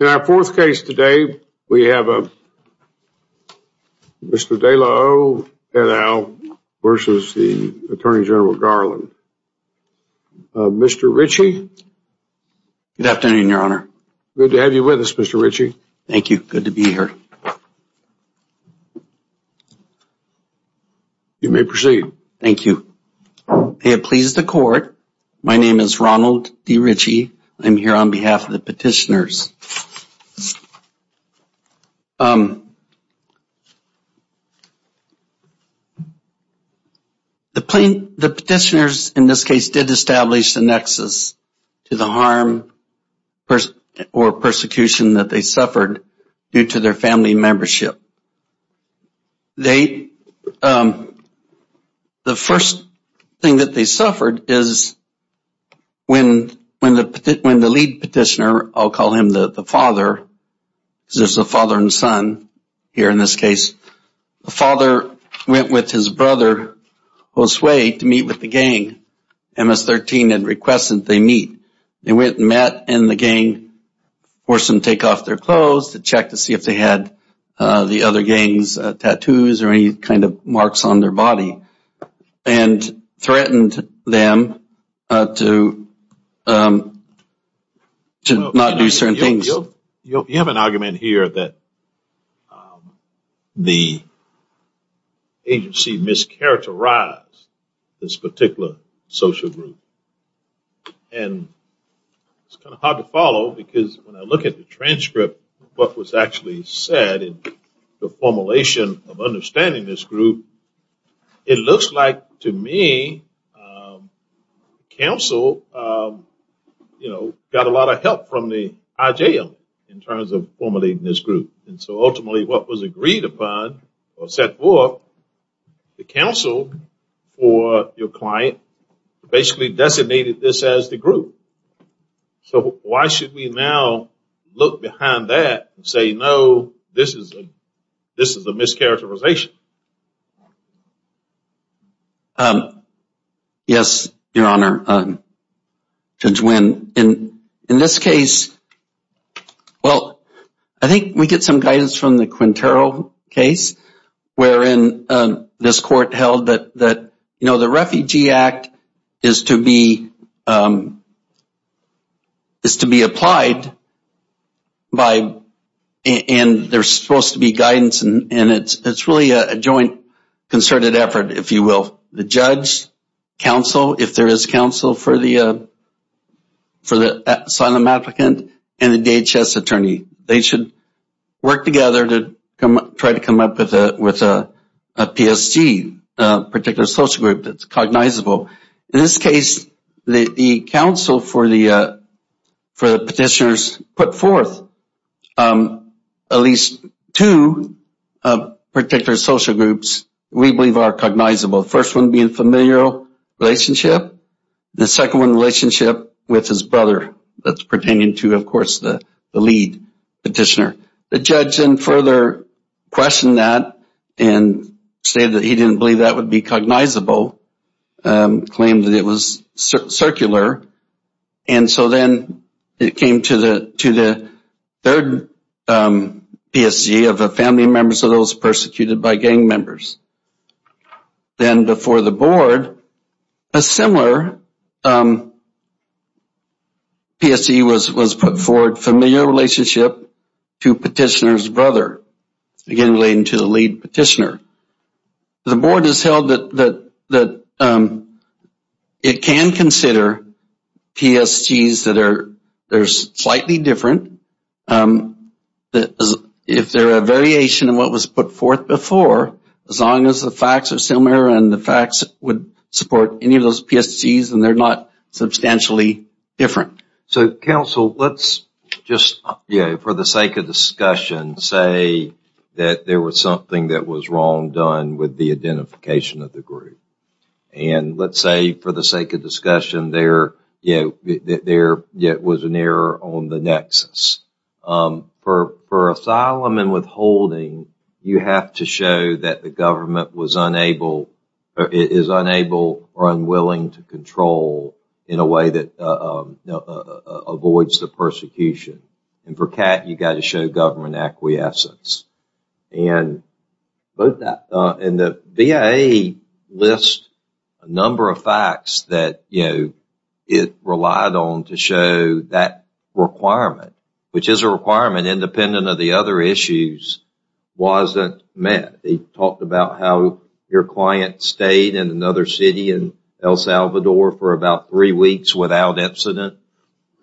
In our fourth case today, we have Mr. De La O et al. versus the Attorney General Garland. Mr. Ritchie? Good afternoon, Your Honor. Good to have you with us, Mr. Ritchie. Thank you. Good to be here. You may proceed. Thank you. May it please the Court, my name is Ronald D. Ritchie. I'm here on behalf of the petitioners. The petitioners, in this case, did establish the nexus to the harm or persecution that they suffered due to their family membership. The first thing that they suffered is when the lead petitioner, I'll call him the father, because there's a father and son here in this case, the father went with his brother, Josue, to meet with the gang, MS-13, and requested that they meet. They went and met, and the gang forced them to take off their clothes to check to see if they had the other gang's tattoos or any kind of marks on their body, and threatened them to not do certain things. You have an argument here that the agency mischaracterized this particular social group. It's kind of hard to follow, because when I look at the transcript of what was actually said in the formulation of understanding this group, it looks like, to me, counsel got a lot of help from the IJL in terms of formulating this group, and so ultimately what was agreed upon, or set forth, the counsel for your client basically designated this as the group. So why should we now look behind that and say, no, this is a mischaracterization? Yes, your honor, Judge Wynn, in this case, well, I think we get some guidance from the case wherein this court held that the Refugee Act is to be applied, and there's supposed to be guidance, and it's really a joint concerted effort, if you will. The judge, counsel, if there is counsel for the asylum applicant, and the DHS attorney, they should work together to try to come up with a PSG, a particular social group that's cognizable. In this case, the counsel for the petitioners put forth at least two particular social groups we believe are cognizable, the first one being familial relationship, the second one relationship with his brother that's pertaining to, of course, the lead petitioner. The judge then further questioned that and stated that he didn't believe that would be cognizable, claimed that it was circular, and so then it came to the third PSG of the family members of those persecuted by gang members. Then before the board, a similar PSG was put forward, familial relationship to petitioner's brother, again relating to the lead petitioner. The board has held that it can consider PSGs that are slightly different, that if there is a variation in what was put forth before, as long as the facts are similar and the facts would support any of those PSGs and they're not substantially different. So counsel, let's just, for the sake of discussion, say that there was something that was wrong done with the identification of the group. And let's say, for the sake of discussion, there was an error on the nexus. For asylum and withholding, you have to show that the government was unable or is unable or unwilling to control in a way that avoids the persecution. And for CAT, you've got to show government acquiescence and the VA lists a number of it relied on to show that requirement, which is a requirement independent of the other issues wasn't met. They talked about how your client stayed in another city in El Salvador for about three weeks without incident.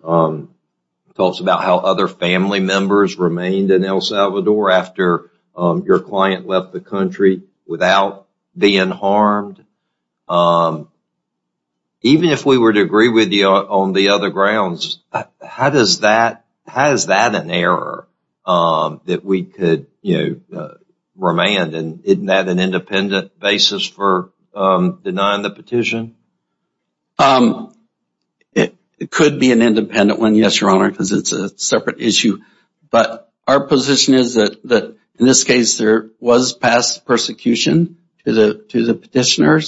Talks about how other family members remained in El Salvador after your client left the country without being harmed. Even if we were to agree with you on the other grounds, how does that, how is that an error that we could, you know, remand and isn't that an independent basis for denying the petition? It could be an independent one, yes, Your Honor, because it's a separate issue. But our position is that in this case, there was past persecution to the petitioner.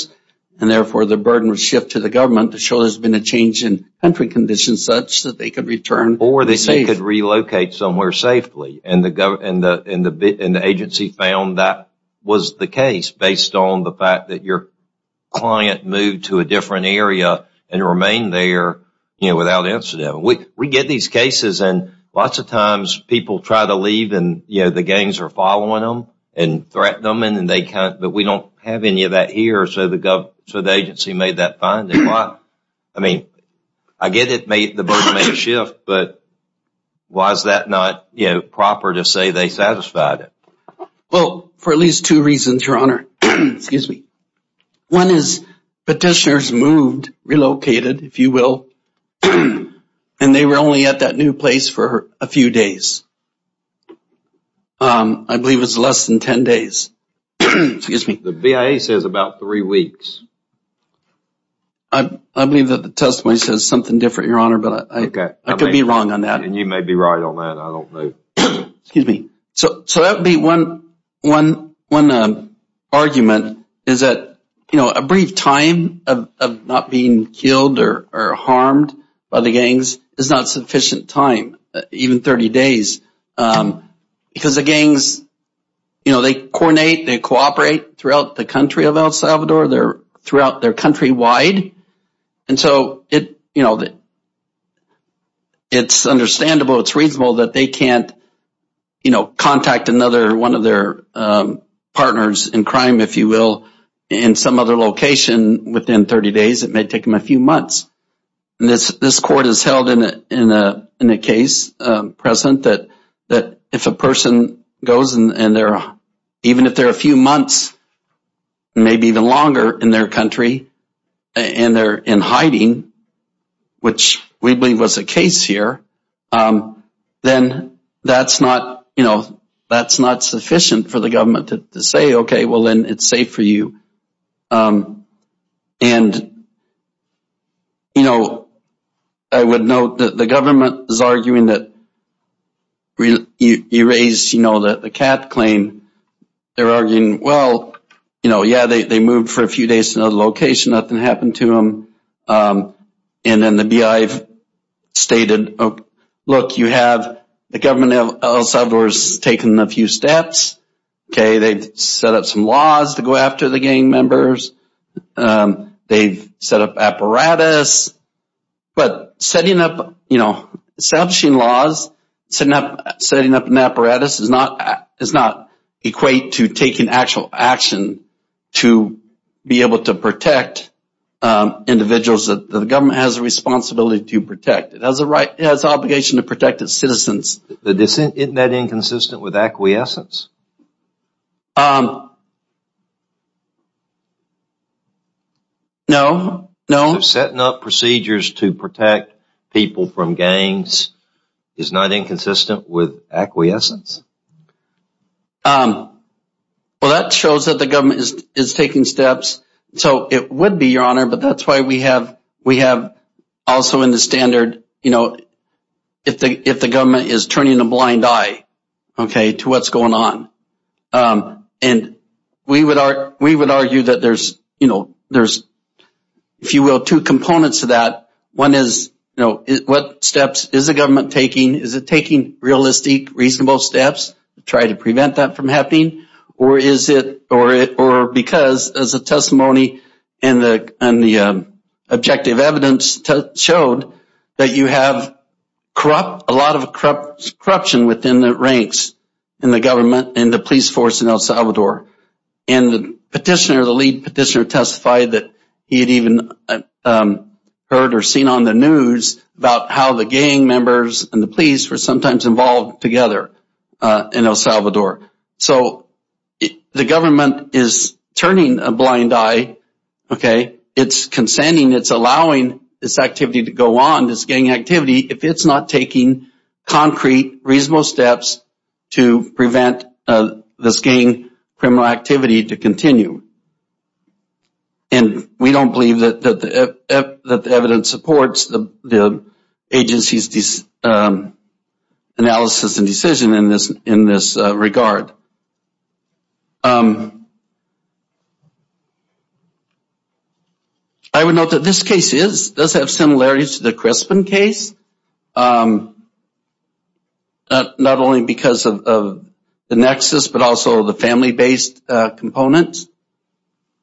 And therefore, the burden was shifted to the government to show there's been a change in country conditions such that they could return. Or they could relocate somewhere safely. And the agency found that was the case based on the fact that your client moved to a different area and remained there, you know, without incident. We get these cases and lots of times people try to leave and, you know, the gangs are so the agency made that finding. I mean, I get it, the burden made a shift. But why is that not, you know, proper to say they satisfied it? Well, for at least two reasons, Your Honor. Excuse me. One is petitioners moved, relocated, if you will, and they were only at that new place for a few days. I believe it was less than 10 days. Excuse me. The BIA says about three weeks. I believe that the testimony says something different, Your Honor, but I could be wrong on that. And you may be right on that. I don't know. Excuse me. So that would be one argument is that, you know, a brief time of not being killed or harmed by the gangs is not sufficient time, even 30 days, because the gangs, you know, they coordinate, they cooperate throughout the country of El Salvador, they're throughout their countrywide. And so it, you know, it's understandable, it's reasonable that they can't, you know, contact another one of their partners in crime, if you will, in some other location within 30 days. It may take them a few months. This court has held in a case, President, that if a person goes and they're, even if they're a few months, maybe even longer in their country, and they're in hiding, which we believe was the case here, then that's not, you know, that's not sufficient for the government to say, okay, well, then it's safe for you. And, you know, I would note that the government is arguing that you raise, you know, the cat claim. They're arguing, well, you know, yeah, they moved for a few days to another location, nothing happened to them. And then the BI stated, look, you have the government of El Salvador has taken a few steps. Okay, they've set up some laws to go after the gang members. They've set up apparatus. But setting up, you know, establishing laws, setting up an apparatus does not equate to taking actual action to be able to protect individuals that the government has a responsibility to protect. It has the obligation to protect its citizens. Isn't that inconsistent with acquiescence? No, no. Setting up procedures to protect people from gangs is not inconsistent with acquiescence. Well, that shows that the government is taking steps. So it would be, Your Honor, but that's why we have also in the standard, you know, if the government is turning a blind eye, okay, to what's going on. And we would argue that there's, you know, there's, if you will, two components to that. One is, you know, what steps is the government taking? Is it taking realistic, reasonable steps to try to prevent that from happening? Or is it, or because as a testimony and the objective evidence showed that you have a lot of corruption within the ranks in the government and the police force in El Salvador. And the petitioner, the lead petitioner testified that he had even heard or seen on the news about how the gang members and the police were sometimes involved together in El Salvador. So the government is turning a blind eye, okay. It's consenting, it's allowing this activity to go on, this gang activity. If it's not taking concrete, reasonable steps to prevent this gang criminal activity to continue. And we don't believe that the evidence supports the agency's analysis and decision in this regard. I would note that this case is, does have similarities to the Crispin case. Not only because of the nexus, but also the family-based components.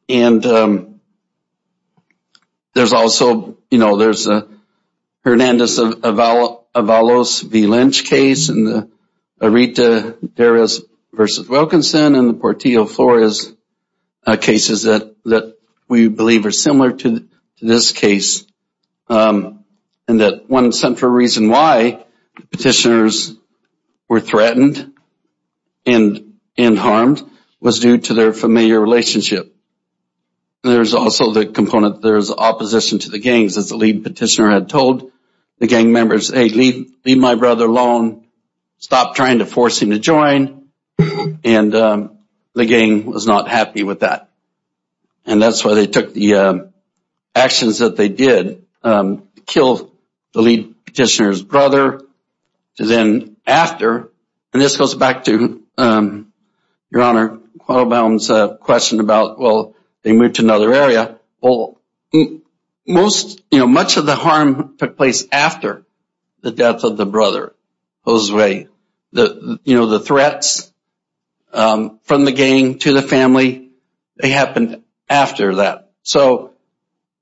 And there's also, you know, there's a Hernandez-Avalos v. Lynch case and the Rita-Darrius v. Wilkinson and the Portillo-Flores cases that we believe are similar to this case. And that one central reason why petitioners were threatened and harmed was due to their familiar relationship. There's also the component, there's opposition to the gangs. As the lead petitioner had told the gang members, hey, leave my brother alone, stop trying to force him to join. And the gang was not happy with that. And that's why they took the actions that they did to kill the lead petitioner's brother. Then after, and this goes back to Your Honor, Quattlebaum's question about, well, they moved to another area. Well, most, you know, much of the harm took place after the death of the brother, Jose. You know, the threats from the gang to the family, they happened after that. So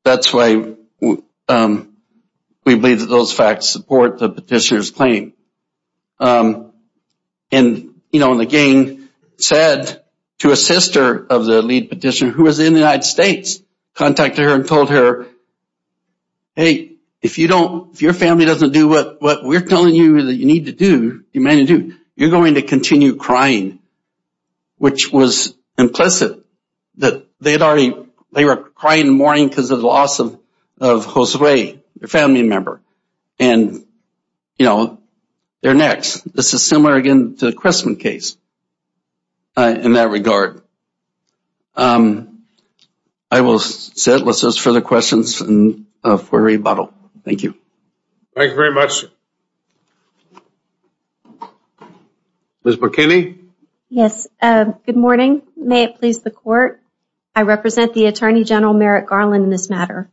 that's why we believe that those facts support the petitioner's claim. And, you know, and the gang said to a sister of the lead petitioner, who was in the United States, contacted her and told her, hey, if you don't, if your family doesn't do what we're telling you that you need to do, you're going to continue crying, which was implicit that they had already, they were crying and mourning because of the loss of Jose, their family member. And, you know, they're next. This is similar again to the Cressman case in that regard. I will set, let's ask further questions for a rebuttal. Thank you. Thank you very much. Ms. McKinney. Yes. Good morning. May it please the court. I represent the Attorney General Merrick Garland in this matter.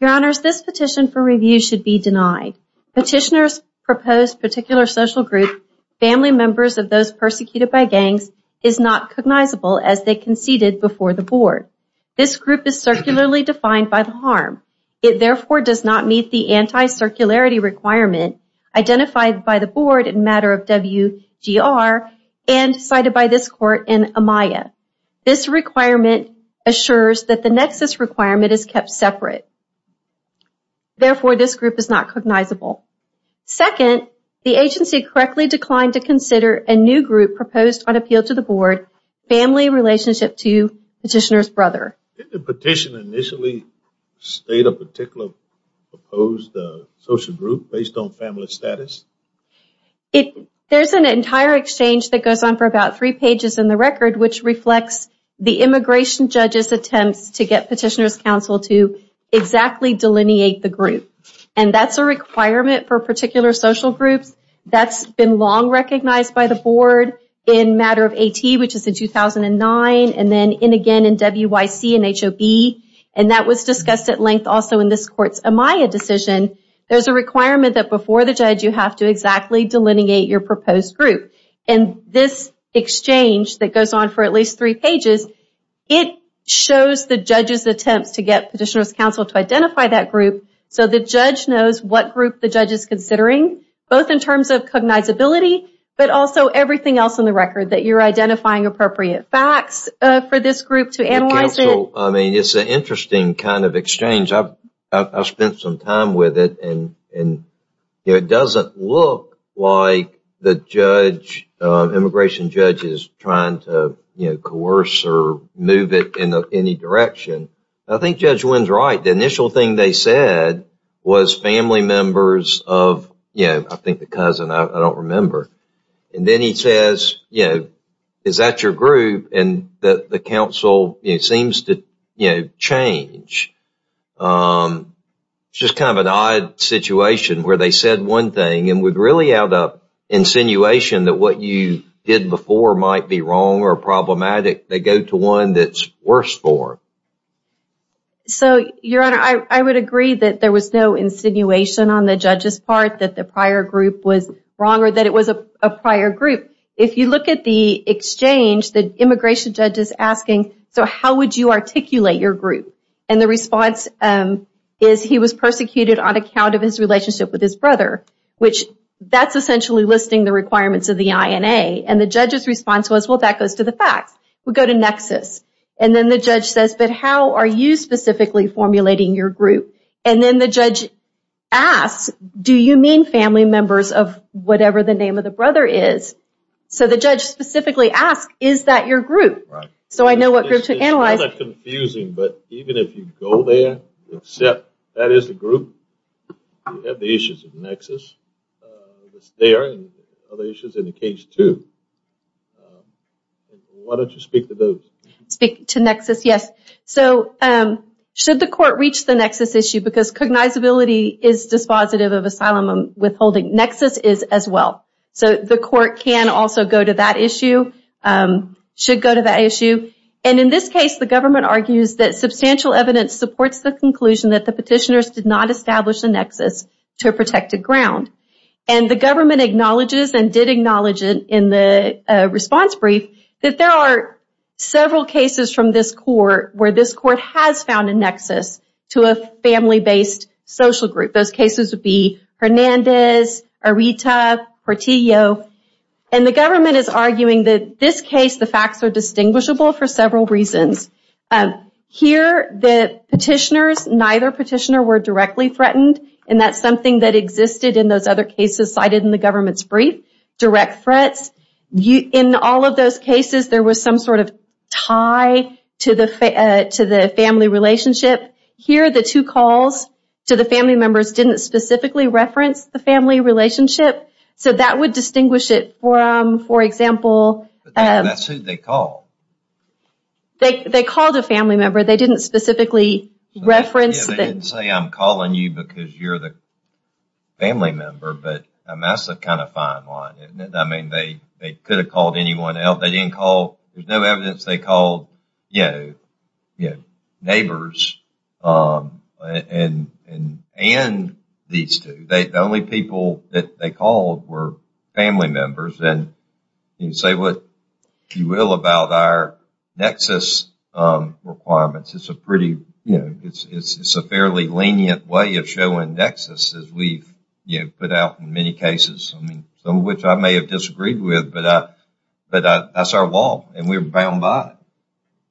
Your Honors, this petition for review should be denied. Petitioners propose particular social group, family members of those persecuted by gangs is not cognizable as they conceded before the board. This group is circularly defined by the harm. It therefore does not meet the anti-circularity requirement identified by the board in matter of WGR and cited by this court in Amaya. This requirement assures that the nexus requirement is kept separate. Therefore, this group is not cognizable. Second, the agency correctly declined to consider a new group proposed on appeal to the board, family relationship to petitioner's brother. The petition initially state a particular proposed social group based on family status. There's an entire exchange that goes on for about three pages in the record which reflects the immigration judges attempts to get petitioners counsel to exactly delineate the group. And that's a requirement for particular social groups. That's been long recognized by the board in matter of AT which is in 2009 and then in again in WYC and HOB. And that was discussed at length also in this court's Amaya decision. There's a requirement that before the judge you have to exactly delineate your proposed group. And this exchange that goes on for at least three pages, it shows the judge's attempts to get petitioners counsel to identify that group so the judge knows what group the judge is considering both in terms of cognizability but also everything else in the record that you're identifying appropriate facts for this group to analyze it. I mean it's an interesting kind of exchange. I've spent some time with it and it doesn't look like the judge, immigration judge, is trying to you know coerce or move it in any direction. I think Judge Wynn's right. The initial thing they said was family members of, you know, I think the cousin, I don't remember. And then he says you know is that your group and that the council it seems to you know change. It's just kind of an odd situation where they said one thing and would really add up insinuation that what you did before might be wrong or problematic. They go to one that's worse for. So your honor, I would agree that there was no insinuation on the judge's part that the prior group was wrong or that it was a prior group. If you look at the exchange, the immigration judge is asking, so how would you articulate your group? And the response is he was persecuted on account of his relationship with his brother, which that's essentially listing the requirements of the INA. And the judge's response was well that goes to the facts. We go to nexus and then the judge says but are you specifically formulating your group? And then the judge asks do you mean family members of whatever the name of the brother is? So the judge specifically asked is that your group? So I know what group to analyze. It's confusing but even if you go there, except that is the group, you have the issues of nexus that's there and other issues in the case too. Why don't you speak to those? Speak to nexus, yes. So should the court reach the nexus issue because cognizability is dispositive of asylum withholding, nexus is as well. So the court can also go to that issue, should go to that issue. And in this case the government argues that substantial evidence supports the conclusion that the petitioners did not establish a nexus to a protected ground. And the government acknowledges and did acknowledge it in the response brief that there are several cases from this court where this court has found a nexus to a family-based social group. Those cases would be Hernandez, Arita, Portillo. And the government is arguing that this case the facts are distinguishable for several reasons. Here the petitioners, neither petitioner were directly threatened and that's something that existed in those other cases cited in the government's brief, direct threats. In all of those cases there was some sort of tie to the family relationship. Here the two calls to the family members didn't specifically reference the family relationship. So that would distinguish it from, for example, that's who they called. They called a family member, they didn't specifically reference. They didn't say I'm calling you because you're the family member, but that's a kind of fine line. I mean they could have called anyone else. They didn't call, there's no evidence they called neighbors and these two. The only people that they called were family members and you can say what you will about our nexus requirements. It's a fairly lenient way of showing nexus as we've put out in many cases. I mean some of which I may have disagreed with, but that's our wall and we're bound by it.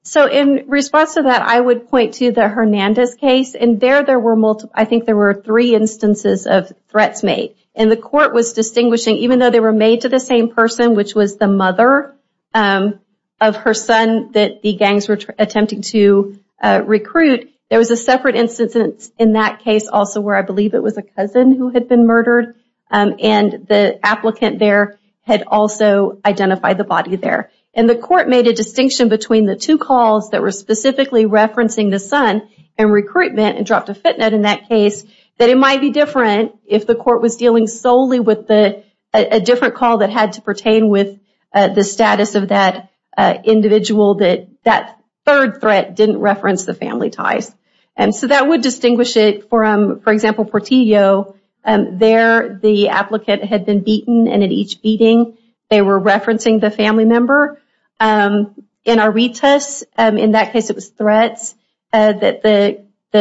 So in response to that I would point to the Hernandez case and there there were multiple, I think there were three instances of threats made and the court was distinguishing even though they were made to the same person which was the mother of her son that the gangs were attempting to recruit. There was a separate instance in that case also where I believe it was a cousin who had been murdered and the applicant there had also identified the body there and the court made a distinction between the two calls that were specifically referencing the son and recruitment and dropped a footnote in that case that it might be different if the court was dealing solely with a different call that had to pertain with the status of that individual that that third threat didn't reference the family ties and so that would distinguish it from for example Portillo. There the applicant had been beaten and each beating they were referencing the family member. In Arritas in that case it was threats that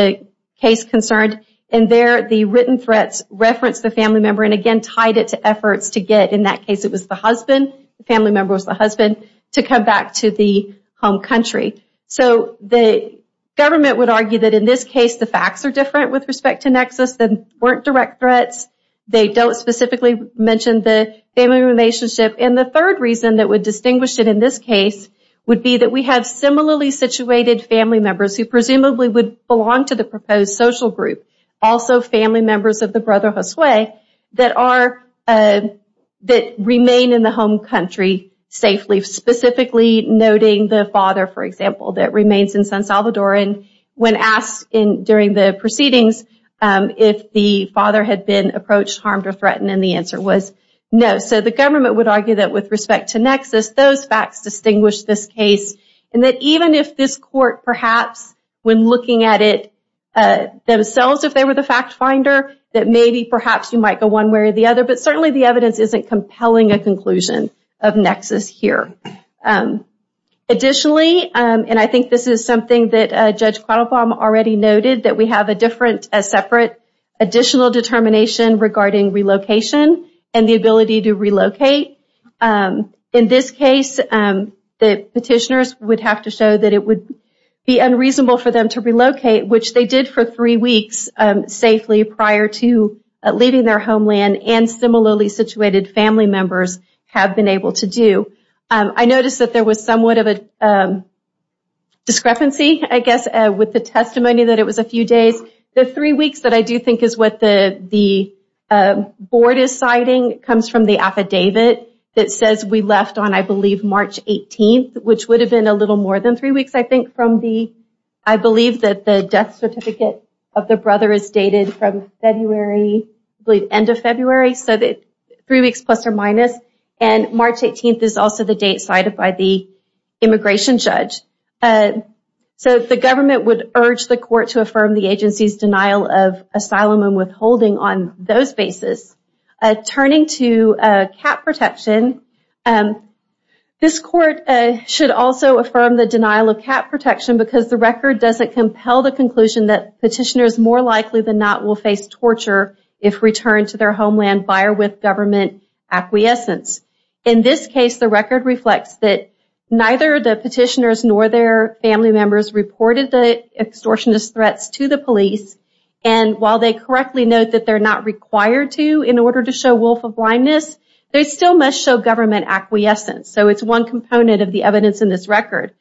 the case concerned and there the written threats referenced the family member and again tied it to efforts to get in that case it was the husband, the family member was the husband, to come back to the home country. So the government would argue that in this case the facts are different with respect to nexus that weren't direct threats. They don't specifically mention the family relationship and the third reason that would distinguish it in this case would be that we have similarly situated family members who presumably would belong to the proposed social group also family members of the brother Josue that are that remain in the home country safely specifically noting the father for example that remains in San Salvador and when asked in during the proceedings if the father had been approached harmed or threatened and the answer was no. So the government would argue that with respect to nexus those facts distinguish this case and that even if this court perhaps when looking at it themselves if they were the fact finder that maybe perhaps you might go one way or the other but certainly the evidence isn't compelling a conclusion of nexus here. Additionally and I think this is something that Judge Quattlebaum already noted that we have a different a separate additional determination regarding relocation and the ability to relocate. In this case the petitioners would have to show that it would be unreasonable for them to relocate which they did for three weeks safely prior to leaving their homeland and similarly situated family members have been able to do. I noticed that there was somewhat of a discrepancy I guess with the testimony that it was a few days the three weeks that I do think is what the the board is citing comes from the affidavit that says we left on I believe March 18th which would have been a little more than three weeks I think from the I believe that the death certificate of the brother is dated from February I believe end of February so that three weeks plus or minus and March 18th is also the date cited by the immigration judge. So the government would urge the court to affirm the agency's denial of asylum and withholding on those basis. Turning to cap protection this court should also affirm the denial of cap protection because the record doesn't compel the conclusion that petitioners more likely than not will face torture if returned to their homeland by or with government acquiescence. In this case the record reflects that neither the petitioners nor their family members reported the extortionist threats to the police and while they correctly note that they're not required to in order to show wolf of blindness they still must show government acquiescence. So it's one component of the evidence in this record.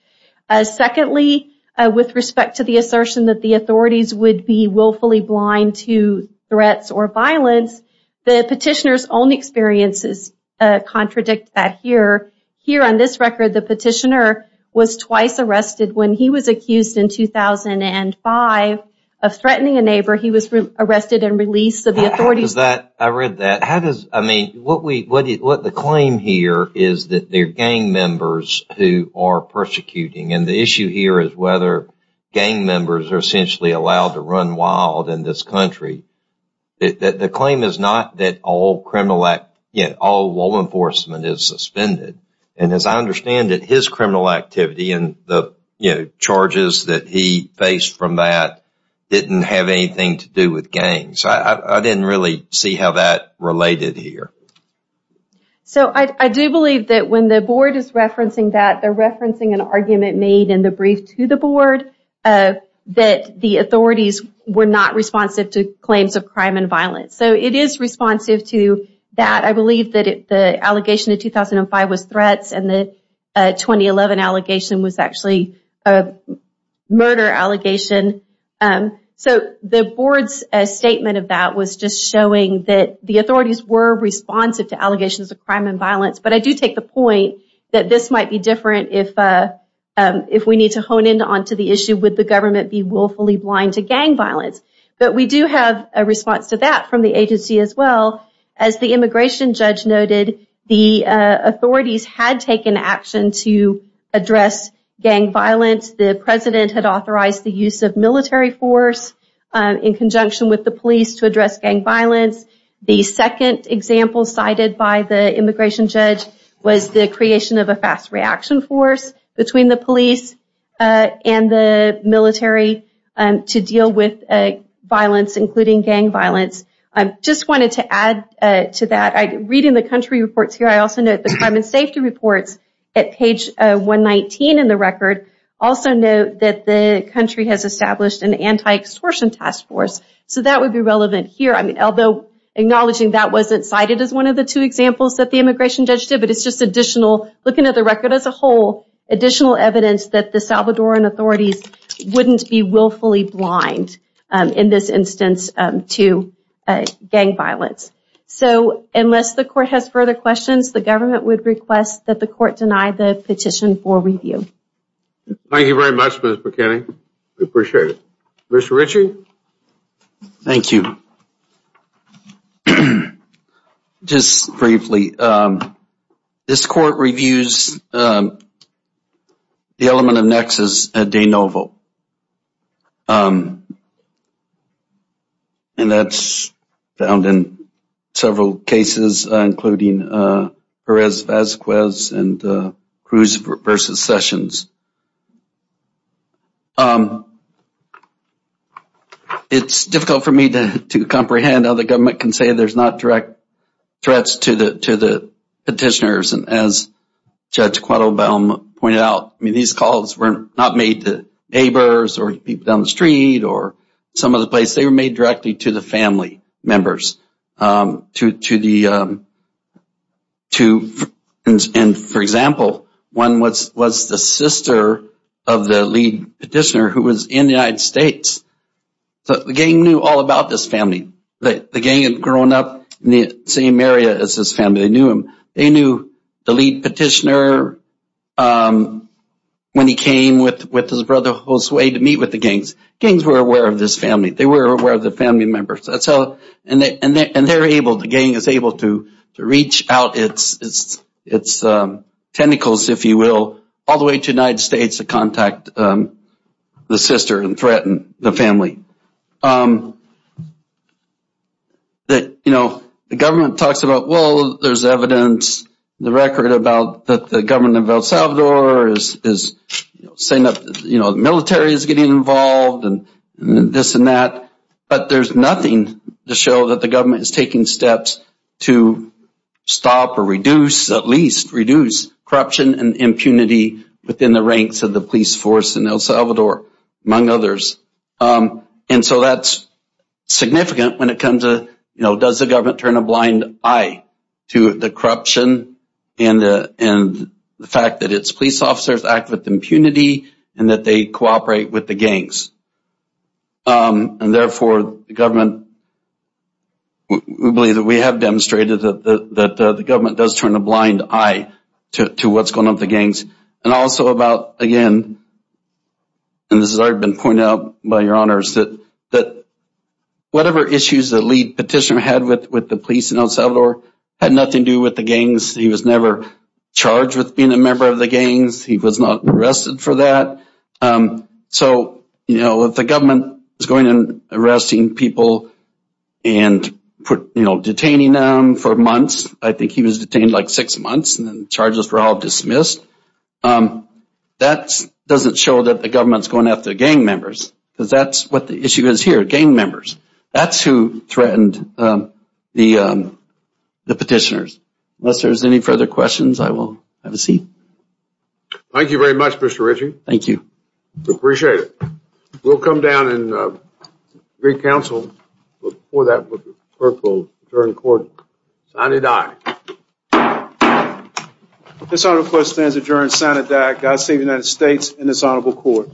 Secondly with respect to the assertion that the authorities would be willfully blind to threats or violence the petitioner's own experiences contradict that here. Here on this record the petitioner was twice arrested when he was accused in 2005 of threatening a neighbor he was arrested and released. I read that how does I mean what we what what the claim here is that they're gang members who are persecuting and the issue here is whether gang members are essentially allowed to run wild in this country. The claim is not that all criminal act yet all law enforcement is suspended and as I understand it his criminal activity and the you know charges that he faced from that didn't have anything to do with I didn't really see how that related here. So I do believe that when the board is referencing that they're referencing an argument made in the brief to the board that the authorities were not responsive to claims of crime and violence. So it is responsive to that I believe that the allegation in 2005 was threats and the 2011 allegation was actually a murder allegation. So the board's statement of that was just showing that the authorities were responsive to allegations of crime and violence but I do take the point that this might be different if if we need to hone in on to the issue would the government be willfully blind to gang violence. But we do have a response to that from the agency as well as the immigration judge noted the authorities had taken action to address gang violence. The president had authorized the use of military force in conjunction with the police to address gang violence. The second example cited by the immigration judge was the creation of a fast reaction force between the police and the military to deal with violence including gang violence. I just wanted to add to that I read in the country reports here I also note the crime and safety reports at page 119 in the record also note that the country has established an anti-extortion task force. So that would be relevant here I mean although acknowledging that wasn't cited as one of the two examples that the immigration judge did but it's just additional looking at the record as a whole additional evidence that the Salvadoran authorities wouldn't be willfully blind in this instance to gang violence. So unless the court has further questions the government would request that the court deny the petition for review. Thank you very much Ms. McKinney. We appreciate it. Mr. Ritchie. Thank you. Just briefly this court reviews the element of nexus at de novo and that's found in several cases including Perez-Vazquez and Cruz versus Sessions. It's difficult for me to comprehend how the government can say there's not direct threats to the petitioners and as Judge Cuadro-Bell pointed out I mean these calls were not made to neighbors or people down the street or some other place they were made directly to the family members. And for example one was the sister of the lead petitioner who was in the United States. The gang knew all about this family. The gang had grown up in the same area as his family. They knew him. They knew the lead petitioner when he came with his brother Josue to meet with the gangs. Gangs were aware of this family. They were aware of the family members. That's how and they're able the gang is able to reach out its tentacles if you will all the way to the United States to contact the sister and threaten the family. The government talks about well there's evidence the record about that the government of El Salvador is saying that the military is getting involved and this and that but there's nothing to show that the government is taking steps to stop or reduce at least reduce corruption and impunity within the ranks of the police force in El Salvador among others. And so that's significant when it comes to you know does the government turn a blind eye to the corruption and the fact that its police officers act with impunity and that they cooperate with the gangs. And therefore the government we believe that we have demonstrated that the government does turn a blind eye to what's going on the gangs and also about again and this has already been pointed out by your honors that that whatever issues the lead petitioner had with with the police in El Salvador had nothing to do with the gangs. He was never charged with being a member of the gangs. He was not arrested for that. So you know if the government is going and arresting people and put you know detaining them for months I think he was detained like six months and then charges were all dismissed. That doesn't show that the government's going after gang members because that's what the issue is here gang members. That's who threatened the petitioners. Unless there's any further questions I will have a seat. Thank you very much Mr. Ritchie. Thank you. We appreciate it. We'll come down and re-counsel but before that the clerk will adjourn the court. Signed and Died. This honor request stands adjourned. Signed and Died. God save the United States and this honorable court.